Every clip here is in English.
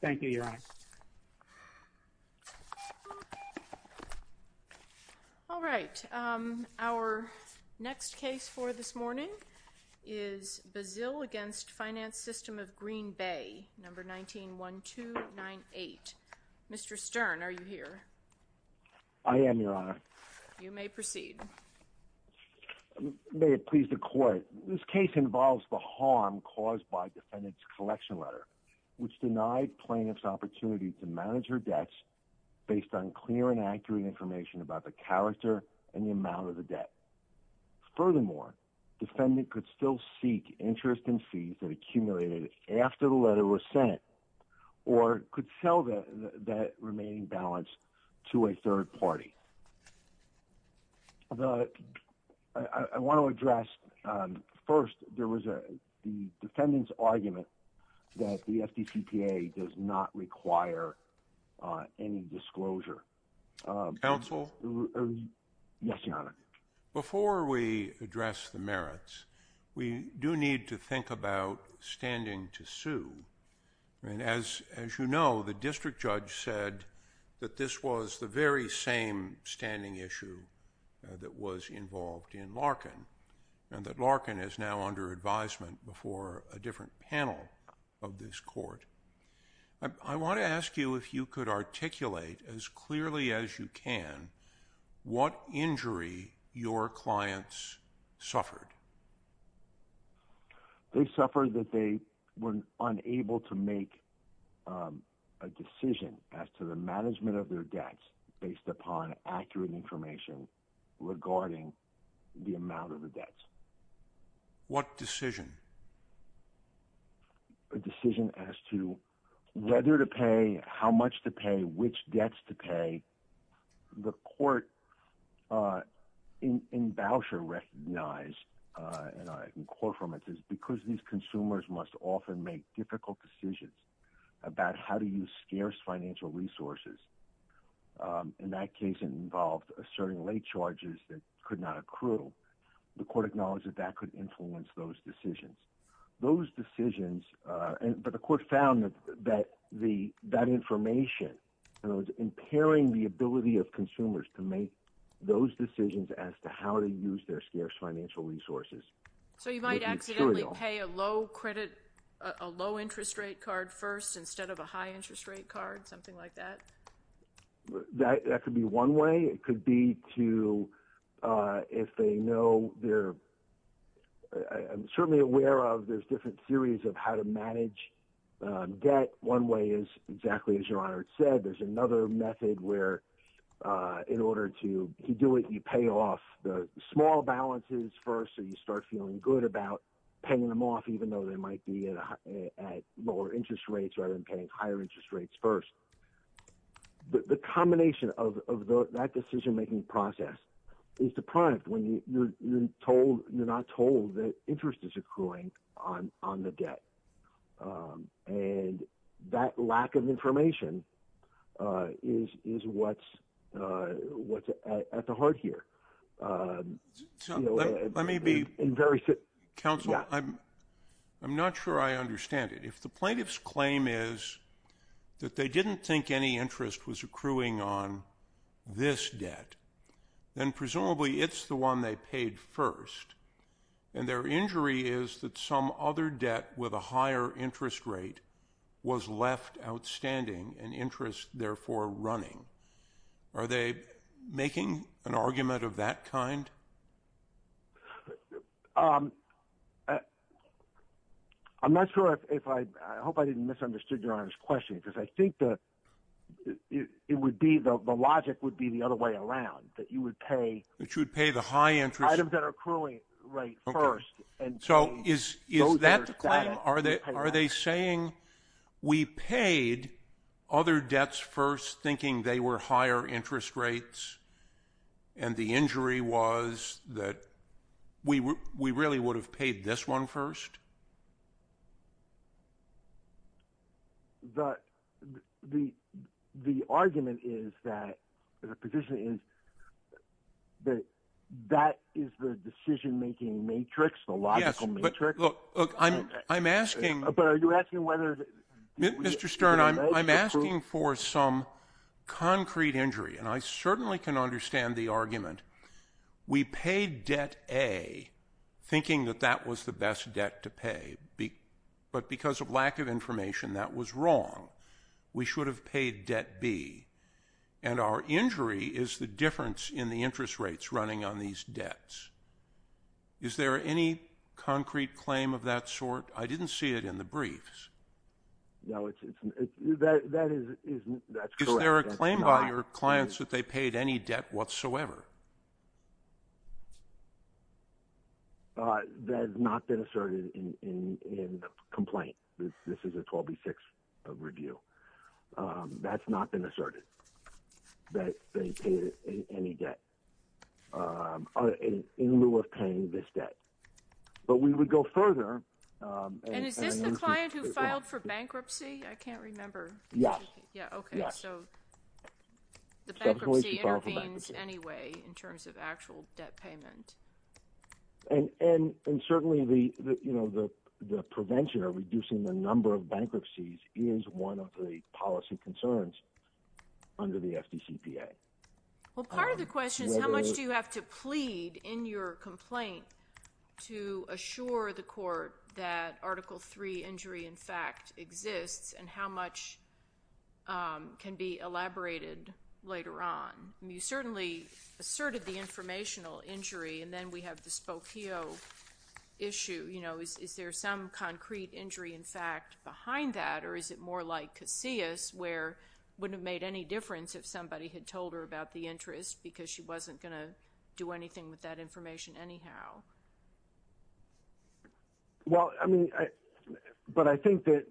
thank you, Your Honor. All right. Our next case for this morning is Bazile against Finance System of Green Bay number 191298. Mr Stern, are you here? I am, Your Honor. You may proceed. May it please the court. This case involves the harm caused by defendant's election letter, which denied plaintiff's opportunity to manage her debts based on clear and accurate information about the character and the amount of the debt. Furthermore, defendant could still seek interest in fees that accumulated after the letter was sent, or could sell that remaining balance to a third party. I want to address first, there was a defendant's that the FDCPA does not require any disclosure. Counsel? Yes, Your Honor. Before we address the merits, we do need to think about standing to sue. And as you know, the district judge said that this was the very same standing issue that was involved in Larkin, and that Larkin is now under advisement before a different panel of this court. I want to ask you if you could articulate as clearly as you can what injury your clients suffered. They suffered that they were unable to make a decision as to the management of their debts based upon accurate information regarding the amount of the debts. What decision? A decision as to whether to pay how much to pay which debts to pay the court in voucher recognize, and I can quote from it is because these consumers must often make difficult decisions about how to use scarce financial resources. In that case involved asserting late charges that could not accrue. The court acknowledged that that could influence those decisions, but the court found that that the that information and I was impairing the ability of consumers to make those decisions as to how to use their scarce financial resources. So you might accidentally pay a low credit, a low interest rate card first instead of a high interest rate card, something like that. That could be one way it could be to if they know they're certainly aware of there's different theories of how to manage debt. One way is exactly as your honor said, there's another method where in order to do it, you pay off the small balances first, so you start feeling good about paying them off, even though they might be at lower interest rates rather than paying higher interest rates first. The combination of that decision making process is deprived when you're told you're not told that interest is accruing on on the debt. And that lack of information is is what's what's at the heart here. Let me be in very good counsel. I'm, I'm not sure I understand it. If the plaintiffs claim is that they didn't think any interest was accruing on this debt, then presumably it's the one they paid first. And their injury is that some other debt with a higher interest rate was left outstanding and interest therefore running. Are they making an argument of that kind? I'm not sure if I hope I didn't misunderstood your honor's question, because I think that it would be the logic would be the other way around that you would pay that you would pay the high interest rate first. And so is is that are they are they saying, we paid other debts first thinking they were higher interest rates. And the injury was that we were we really would have paid this one first. The, the, the argument is that the position is that that is the decision making matrix, the logical matrix, but look, I'm I'm asking, but are you asking whether, Mr. Stern, I'm, I'm asking for some concrete injury, and I certainly can understand the argument. We paid debt a thinking that that was the best debt to pay. But because of lack of information that was wrong, we should have paid debt B. And our injury is the difference in the interest rates running on these debts. Is there any concrete claim of that sort? I didn't see it in the briefs. No, it's that that is, that's correct. There are claim by your clients that they paid any debt whatsoever. That has not been asserted in the complaint. This is a 12B6 review. That's not been asserted that they paid any debt in lieu of paying this debt. But we would go further. And is this the client who filed for bankruptcy? I can't remember. Yeah. Yeah. Okay. So the bankruptcy intervenes anyway. In terms of actual debt payment. And, and certainly the, you know, the prevention of reducing the number of bankruptcies is one of the policy concerns under the FDCPA. Well, part of the question is how much do you have to plead in your complaint to assure the court that Article 3 injury in fact exists and how much can be elaborated later on? You certainly asserted the informational injury and then we have the Spokio issue. You know, is there some concrete injury in fact behind that or is it more like Casillas where it wouldn't have made any difference if somebody had told her about the interest because she wasn't going to do anything with that information anyhow? Well, I mean, but I think that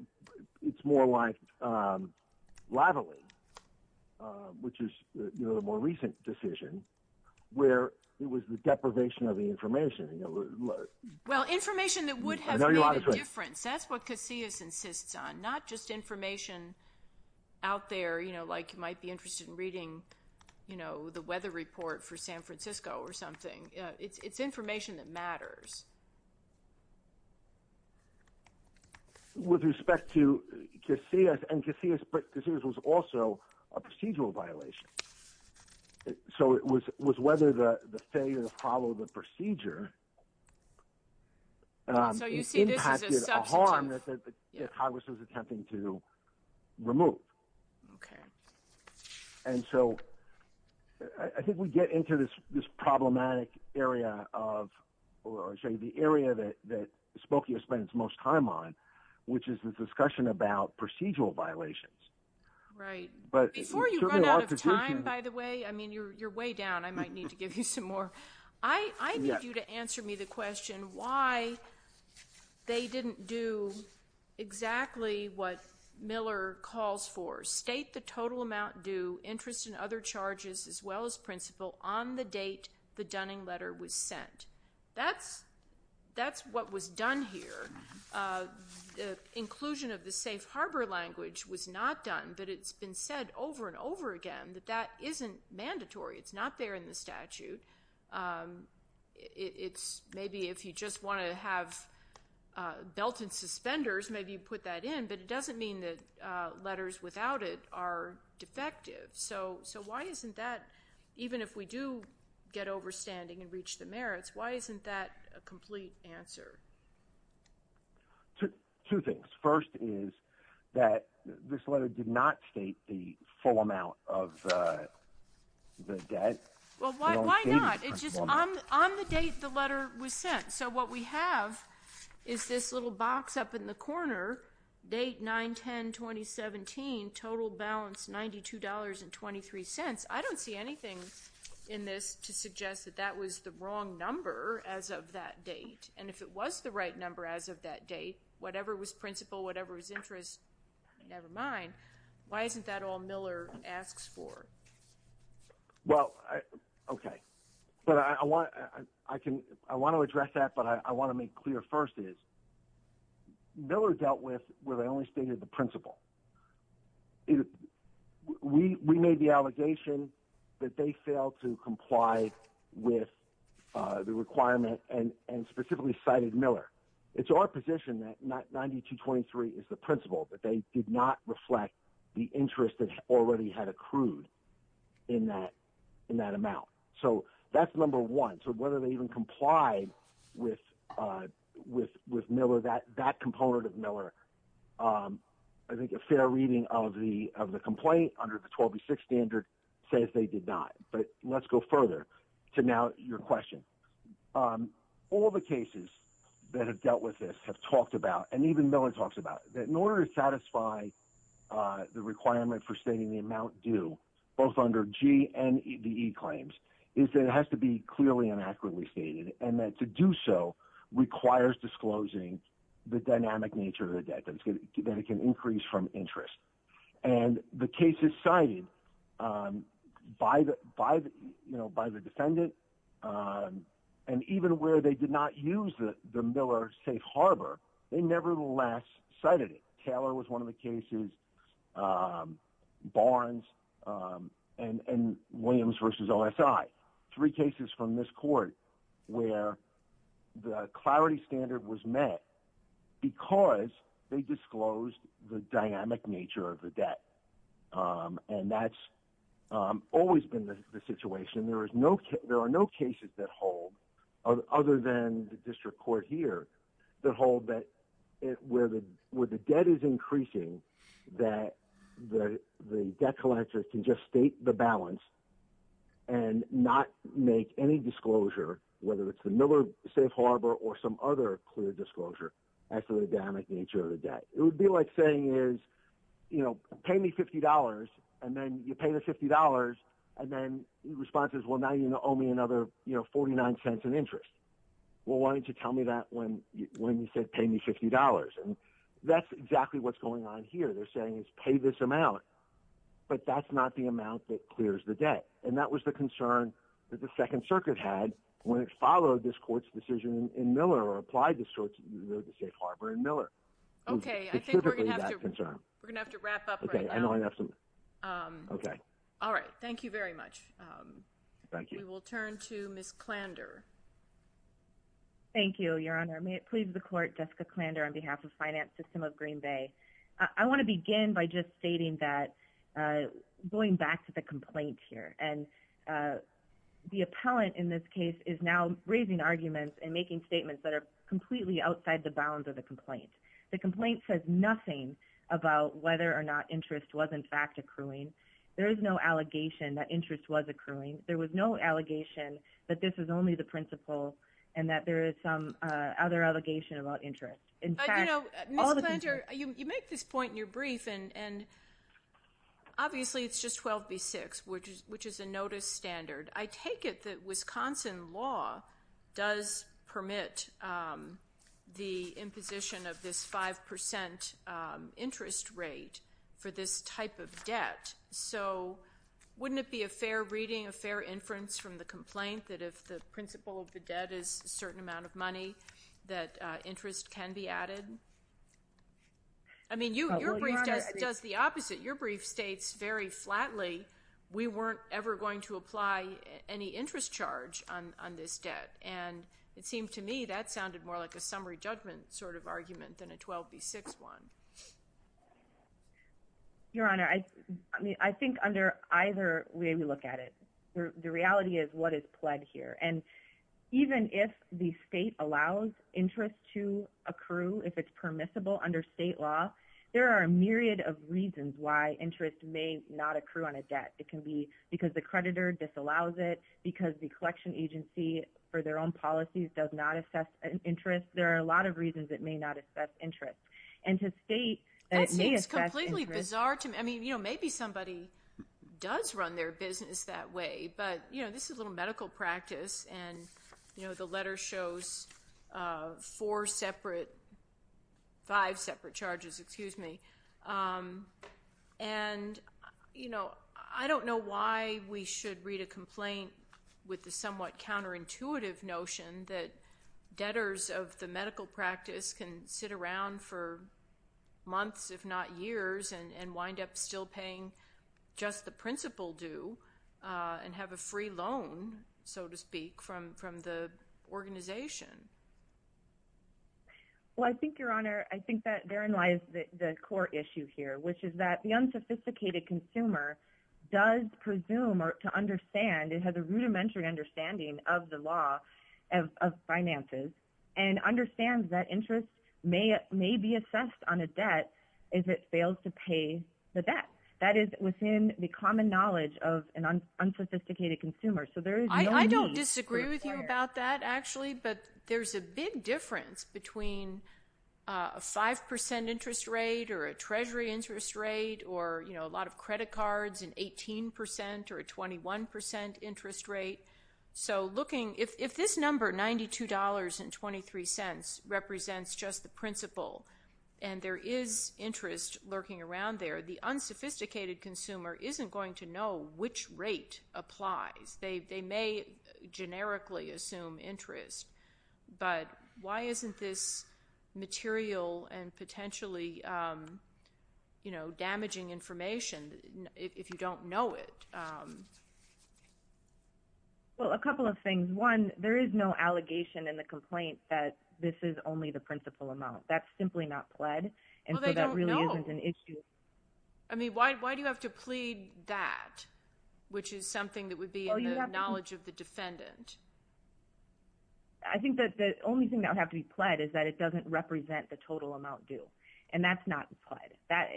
it's more like, um, lively, uh, which is, you know, the more recent decision where it was the deprivation of the information, you know, well, information that would have made a difference. That's what Casillas insists on, not just information out there, you know, like you might be interested in reading, you know, the weather report for San Francisco or something. It's information that matters. With respect to Casillas and Casillas, but Casillas was also a procedural violation. So it was, was whether the failure to follow the procedure, um, impacted a harm that the Congress was attempting to remove. Okay. And so I think we get into this, this problematic area of, or I'll show you the area that, that Spokia spends most time on, which is the discussion about procedural violations. Right. But before you run out of time, by the way, I mean, you're, you're way down. I might need to give you some more. I, I need you to answer me the question why they didn't do exactly what Miller calls for. State the total amount due, interest in other charges as well as principal on the date the Dunning letter was sent. That's, that's what was done here. The inclusion of the safe harbor language was not done, but it's been said over and over again that that isn't mandatory. It's not there in the statute. It's maybe if you just want to have a belt and suspenders, maybe you put that in, but it doesn't mean that letters without it are defective. So, so why isn't that even if we do get overstanding and reach the merits, why isn't that a complete answer? Two things. First is that this letter did not state the full amount of the debt. Well, why, why not? It's just on, on the date the letter was sent. So what we have is this little box up in the corner date, nine, 10, 2017 total balance, $92 and 23 cents. I don't see anything in this to suggest that that was the wrong number as of that date. And if it was the right number as of that date, whatever was principal, whatever was interest, nevermind. Why isn't that all Miller asks for? Well, okay. But I want, I can, I want to address that, but I want to make clear first is Miller dealt with where they only stated the principal. We, we made the allegation that they failed to comply with the requirement and, and specifically cited Miller. It's our position that not 92 23 is the principal, but they did not reflect the interest that already had accrued in that, in that amount. So that's number one. So whether they even complied with, with, with Miller, that, that component of Miller, I think a fair reading of the, of the complaint under the 12 to six standard says they did not, but let's go further to now your question. All the cases that have dealt with this have talked about, and even Miller talks about that in order to satisfy the requirement for stating the amount due both under G and the E claims is that it has to be clearly and accurately stated. And that to do so requires disclosing the dynamic nature of the debt that it can increase from interest. And the cases cited by the, by the, you know, by the defendant and even where they did not use the Miller safe Harbor, they never last cited it. Taylor was one of the cases Barnes and, and Williams versus OSI three cases from this court where the clarity standard was met because they disclosed the dynamic nature of the debt. And that's always been the situation. There is no, there are no cases that hold other than the district court here that hold that it, where the, where the debt is increasing, that the, the debt collector can just state the balance and not make any disclosure, whether it's the Miller safe Harbor or some other clear disclosure after the dynamic nature of the debt, it would be like saying is, you know, pay me $50 and then you pay the $50 and then the response is, well, now you know, owe me another, you know, 49 cents in interest. Well, why didn't you tell me that when you, when you said pay me $50? And that's exactly what's going on here. They're saying is pay me this amount, but that's not the amount that clears the debt. And that was the concern that the second circuit had when it followed this court's decision in Miller or applied this sort of safe Harbor and Miller. Okay. I think we're going to have to wrap up. Okay. All right. Thank you very much. Thank you. We'll turn to Ms. Klander. Thank you, your Honor. May it please the court, Jessica Klander on behalf of finance system of green Bay. I want to begin by just stating that going back to the complaint here and the appellant in this case is now raising arguments and making statements that are completely outside the bounds of the complaint. The complaint says nothing about whether or not interest was in fact accruing. There is no allegation that interest was accruing. There was no allegation that this is only the principle and that there is some other allegation about interest. In fact, all the other allegations that the plaintiff made in this case are completely outside the bounds of the complaint. So I just want to make this point in your brief and obviously it's just 12 B six, which is, which is a notice standard. I take it that Wisconsin law does permit the imposition of this 5% interest rate for this type of debt. So wouldn't it be a fair reading, a certain amount of money that interest can be added? I mean, you, your brief does the opposite. Your brief States very flatly. We weren't ever going to apply any interest charge on this debt. And it seemed to me that sounded more like a summary judgment sort of argument than a 12 B six one. Your Honor. I mean, I think under either way we look at it, the reality is what is pled here. And even if the state allows interest to accrue, if it's permissible under state law, there are a myriad of reasons why interest may not accrue on a debt. It can be because the creditor disallows it because the collection agency for their own policies does not assess an interest. There are a lot of reasons that may not assess interest and to state that it's completely bizarre to me. I mean, you know, maybe somebody does run their business that way, but you know, this is a little medical practice and you know, the letter shows four separate five separate charges, excuse me. And you know, I don't know why we should read a complaint with the somewhat counterintuitive notion that debtors of the medical practice can sit around for months, if not years, and wind up still paying just what the principal do and have a free loan, so to speak, from the organization. Well, I think, Your Honor, I think that therein lies the core issue here, which is that the unsophisticated consumer does presume to understand and has a rudimentary understanding of the law of finances and understands that interest may be assessed on a debt if it fails to pay the debt. That is within the common knowledge of an unsophisticated consumer. I don't disagree with you about that, actually, but there's a big difference between a 5% interest rate or a treasury interest rate or, you know, a lot of credit cards and 18% or a 21% interest rate. So looking, if this number, $92.23, represents just the principal and there is interest lurking around there, the unsophisticated consumer isn't going to know which rate applies. They may generically assume interest, but why isn't this material and potentially, you know, damaging information if you don't know it? Well, a couple of things. One, there is no allegation in the complaint that this is only the total amount due. And so that really isn't an issue. Well, they don't know. I mean, why do you have to plead that, which is something that would be in the knowledge of the defendant? I think that the only thing that would have to be pled is that it doesn't represent the total amount due. And that's not pled.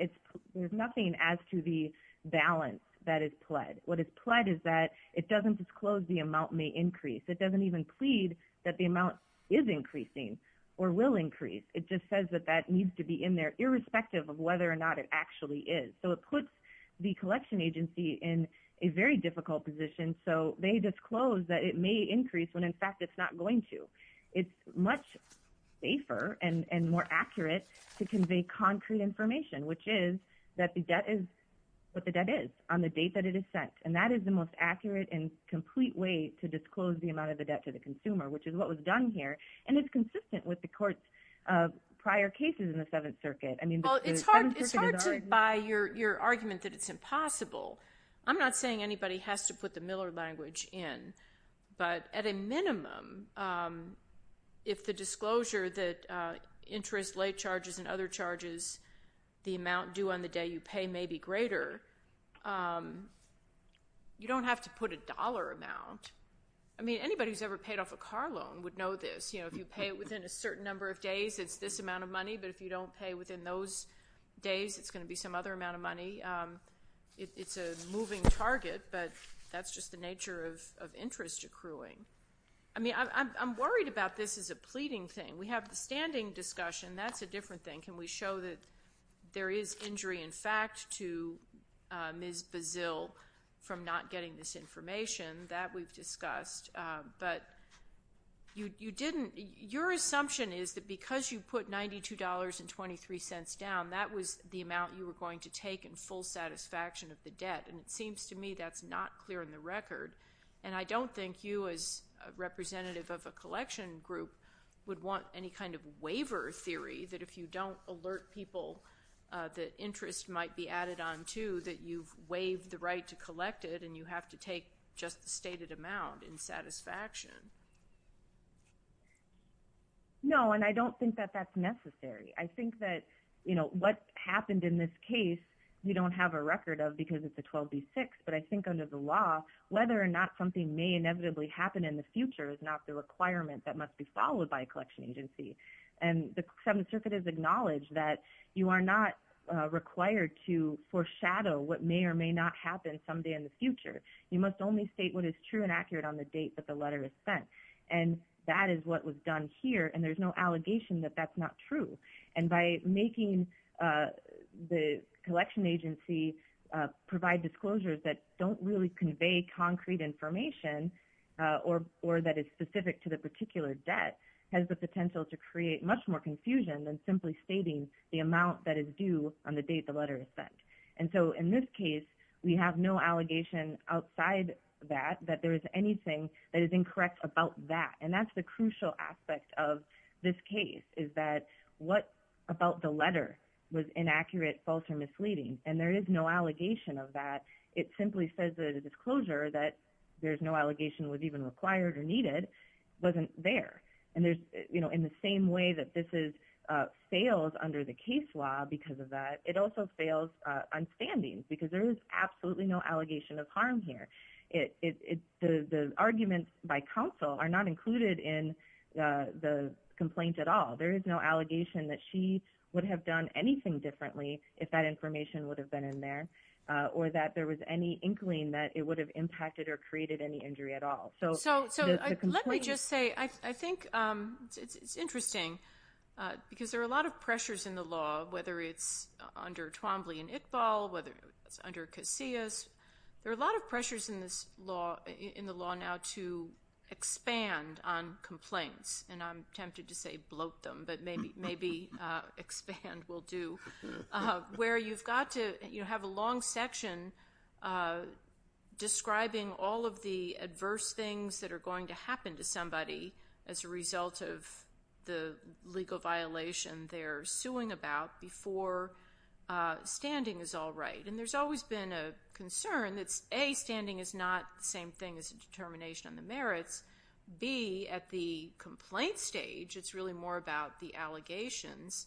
There's nothing as to the balance that is pled. What is pled is that it doesn't disclose the amount may increase. It doesn't even plead that the amount is increasing or will increase. It just says that that needs to be in there, irrespective of whether or not it actually is. So it puts the collection agency in a very difficult position. So they disclose that it may increase when, in fact, it's not going to. It's much safer and more accurate to convey concrete information, which is that the debt is what the debt is on the date that it is sent. And that is the most accurate and complete way to disclose the amount of the debt to the consumer, which is what was done here. And it's consistent with the court's prior cases in the Seventh Circuit. Well, it's hard to buy your argument that it's impossible. I'm not saying anybody has to put the Miller language in. But at a minimum, if the disclosure that interest, late charges, and other charges, the amount due on the day you pay may be greater, you don't have to put a dollar amount. I mean, anybody who's ever paid off a car loan would know this. If you pay it within a certain number of days, it's this amount of money. But if you don't pay within those days, it's going to be some other amount of money. It's a moving target, but that's just the nature of interest accruing. I mean, I'm worried about this as a pleading thing. We have the standing discussion. That's a different thing. Can we show that there is injury in fact to Ms. Bazile from not getting this information? That we've discussed. But your assumption is that because you put $92.23 down, that was the amount you were going to take in full satisfaction of the debt. And it seems to me that's not clear in the record. And I don't think you, as a representative of a collection group, would want any kind of waiver theory that if you don't alert people that interest might be added on too, that you've waived the right to collect it and you have to take just the stated amount in satisfaction. No, and I don't think that that's necessary. I think that what happened in this case, you don't have a record of because it's a 12B6. But I think under the law, whether or not something may inevitably happen in the future is not the requirement that must be followed by a collection agency. And the Seventh Circuit has acknowledged that you are not required to foreshadow what may or may not happen someday in the future. You must only state what is true and accurate on the date that the letter is sent. And that is what was done here. And there's no allegation that that's not true. And by making the collection agency provide disclosures that don't really convey concrete information, or that is specific to the particular debt, has the potential to create much more confusion than simply stating the amount that is due on the date the letter is sent. And so in this case, we have no allegation outside that, that there is anything that is incorrect about that. And that's the crucial aspect of this case, is that what about the letter was inaccurate, false, or misleading. And there is no allegation of that. It simply says that the disclosure that there's no allegation was even required or needed, wasn't there. And there's, you know, in the same way that this is, fails under the case law because of that, it also fails on standings, because there is absolutely no allegation of harm here. The arguments by counsel are not included in the complaint at all. There is no allegation that she would have done anything differently if that information would have been in there, or that there was any inkling that it would have impacted or created any injury at all. So let me just say, I think it's interesting, because there are a lot of pressures in the law, whether it's under Twombly and Iqbal, whether it's under Casillas, there are a lot of pressures in this law, in the law now to expand on complaints. And I'm tempted to say bloat them, but maybe expand will do. Where you've got to, you know, have a long section describing all of the adverse things that are going to happen to somebody as a result of the legal violation they're suing about before standing is all right. And there's always been a concern that, A, standing is not the same thing as a determination on the merits. B, at the complaint stage, it's really more about the allegations.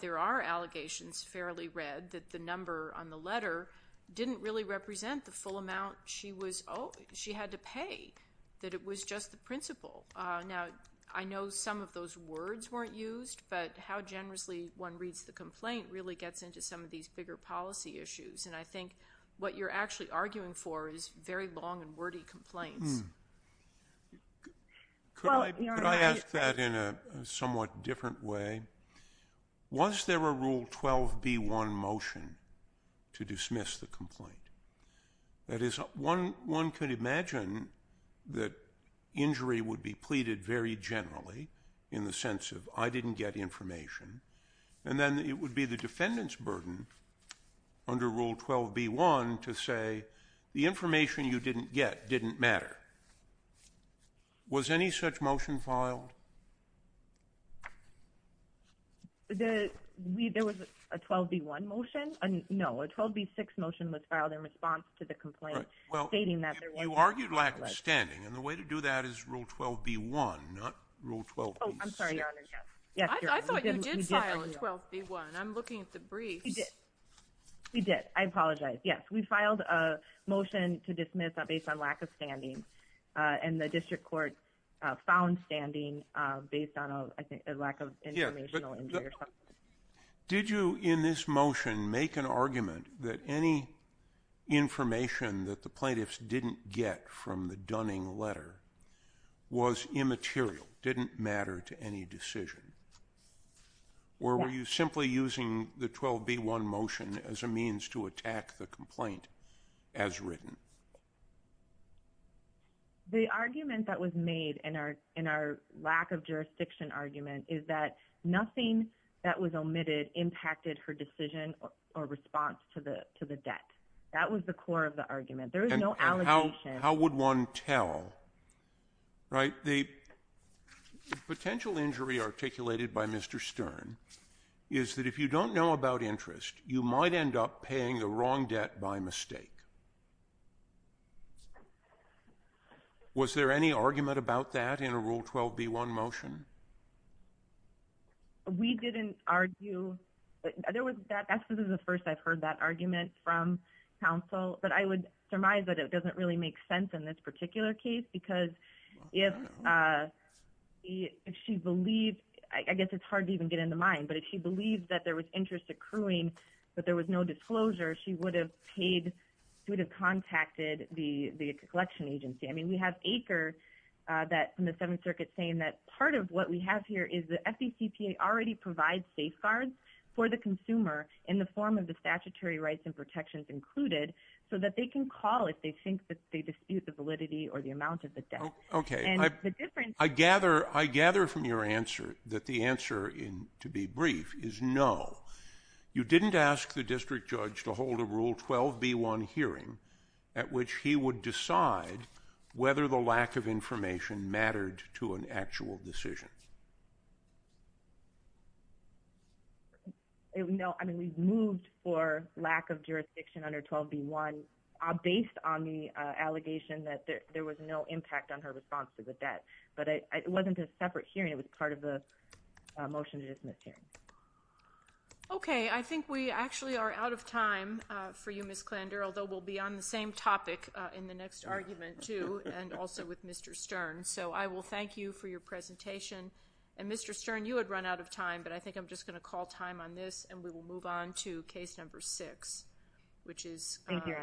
There are allegations, fairly read, that the number on the letter didn't really represent the full amount she had to pay, that it was just the principle. Now, I know some of those words weren't used, but how generously one reads the complaint really gets into some of these bigger policy issues. And I think what you're actually arguing for is very long and wordy complaints. Could I ask that in a somewhat different way? Was there a Rule 12b1 motion to dismiss the complaint? That is, one could imagine that injury would be pleaded very generally in the sense of, I didn't get information. And then it would be the defendant's burden under Rule 12b1 to say, the information you didn't get didn't matter. Was any such motion filed? There was a 12b1 motion. No, a 12b6 motion was filed in response to the complaint stating that there was... Well, you argued lack of standing, and the way to do that is Rule 12b1, not Rule 12b6. Oh, I'm sorry, Your Honor. Yes, Your Honor. I thought you did file a 12b1. I'm looking at the briefs. We did. I apologize. Yes, we filed a motion to dismiss based on lack of standing, and the district court found standing based on a lack of informational injury or something. Did you, in this motion, make an argument that any information that the plaintiffs didn't get from the Dunning letter was immaterial, didn't matter to any decision, or were you simply using the 12b1 motion as a means to attack the complaint as written? The argument that was made in our lack of jurisdiction argument is that nothing that was omitted impacted her decision or response to the debt. That was the core of the argument. There was no allegation. How would one tell, right? The potential injury articulated by Mr. Stern is that if you don't know about interest, you might end up paying the wrong debt by mistake. Was there any argument about that in a Rule 12b1 motion? We didn't argue... That's the first I've heard that argument from counsel, but I would surmise that it doesn't really make sense in this particular case, because if she believed... I guess it's hard to even get in the mind, but if she believed that there was interest accruing but there was no disclosure, she would have paid, she would have contacted the collection agency. I mean, we have Aker from the Seventh Circuit saying that part of what we have here is the FDCPA already provides safeguards for the consumer in the statutory rights and protections included so that they can call if they think that they dispute the validity or the amount of the debt. Okay. I gather from your answer that the answer, to be brief, is no. You didn't ask the district judge to hold a Rule 12b1 hearing at which he would decide whether the lack of information mattered to an actual decision. No. I mean, we've moved for lack of jurisdiction under 12b1 based on the allegation that there was no impact on her response to the debt. But it wasn't a separate hearing. It was part of the motion to dismiss hearing. Okay. I think we actually are out of time for you, Ms. Klander, although we'll be on the same topic in the next argument, too, and also with Mr. Stern. So I will thank you for your presentation. And, Mr. Stern, you had run out of time, but I think I'm just going to call time on this, and we will move on to case number six, which is. Thank you.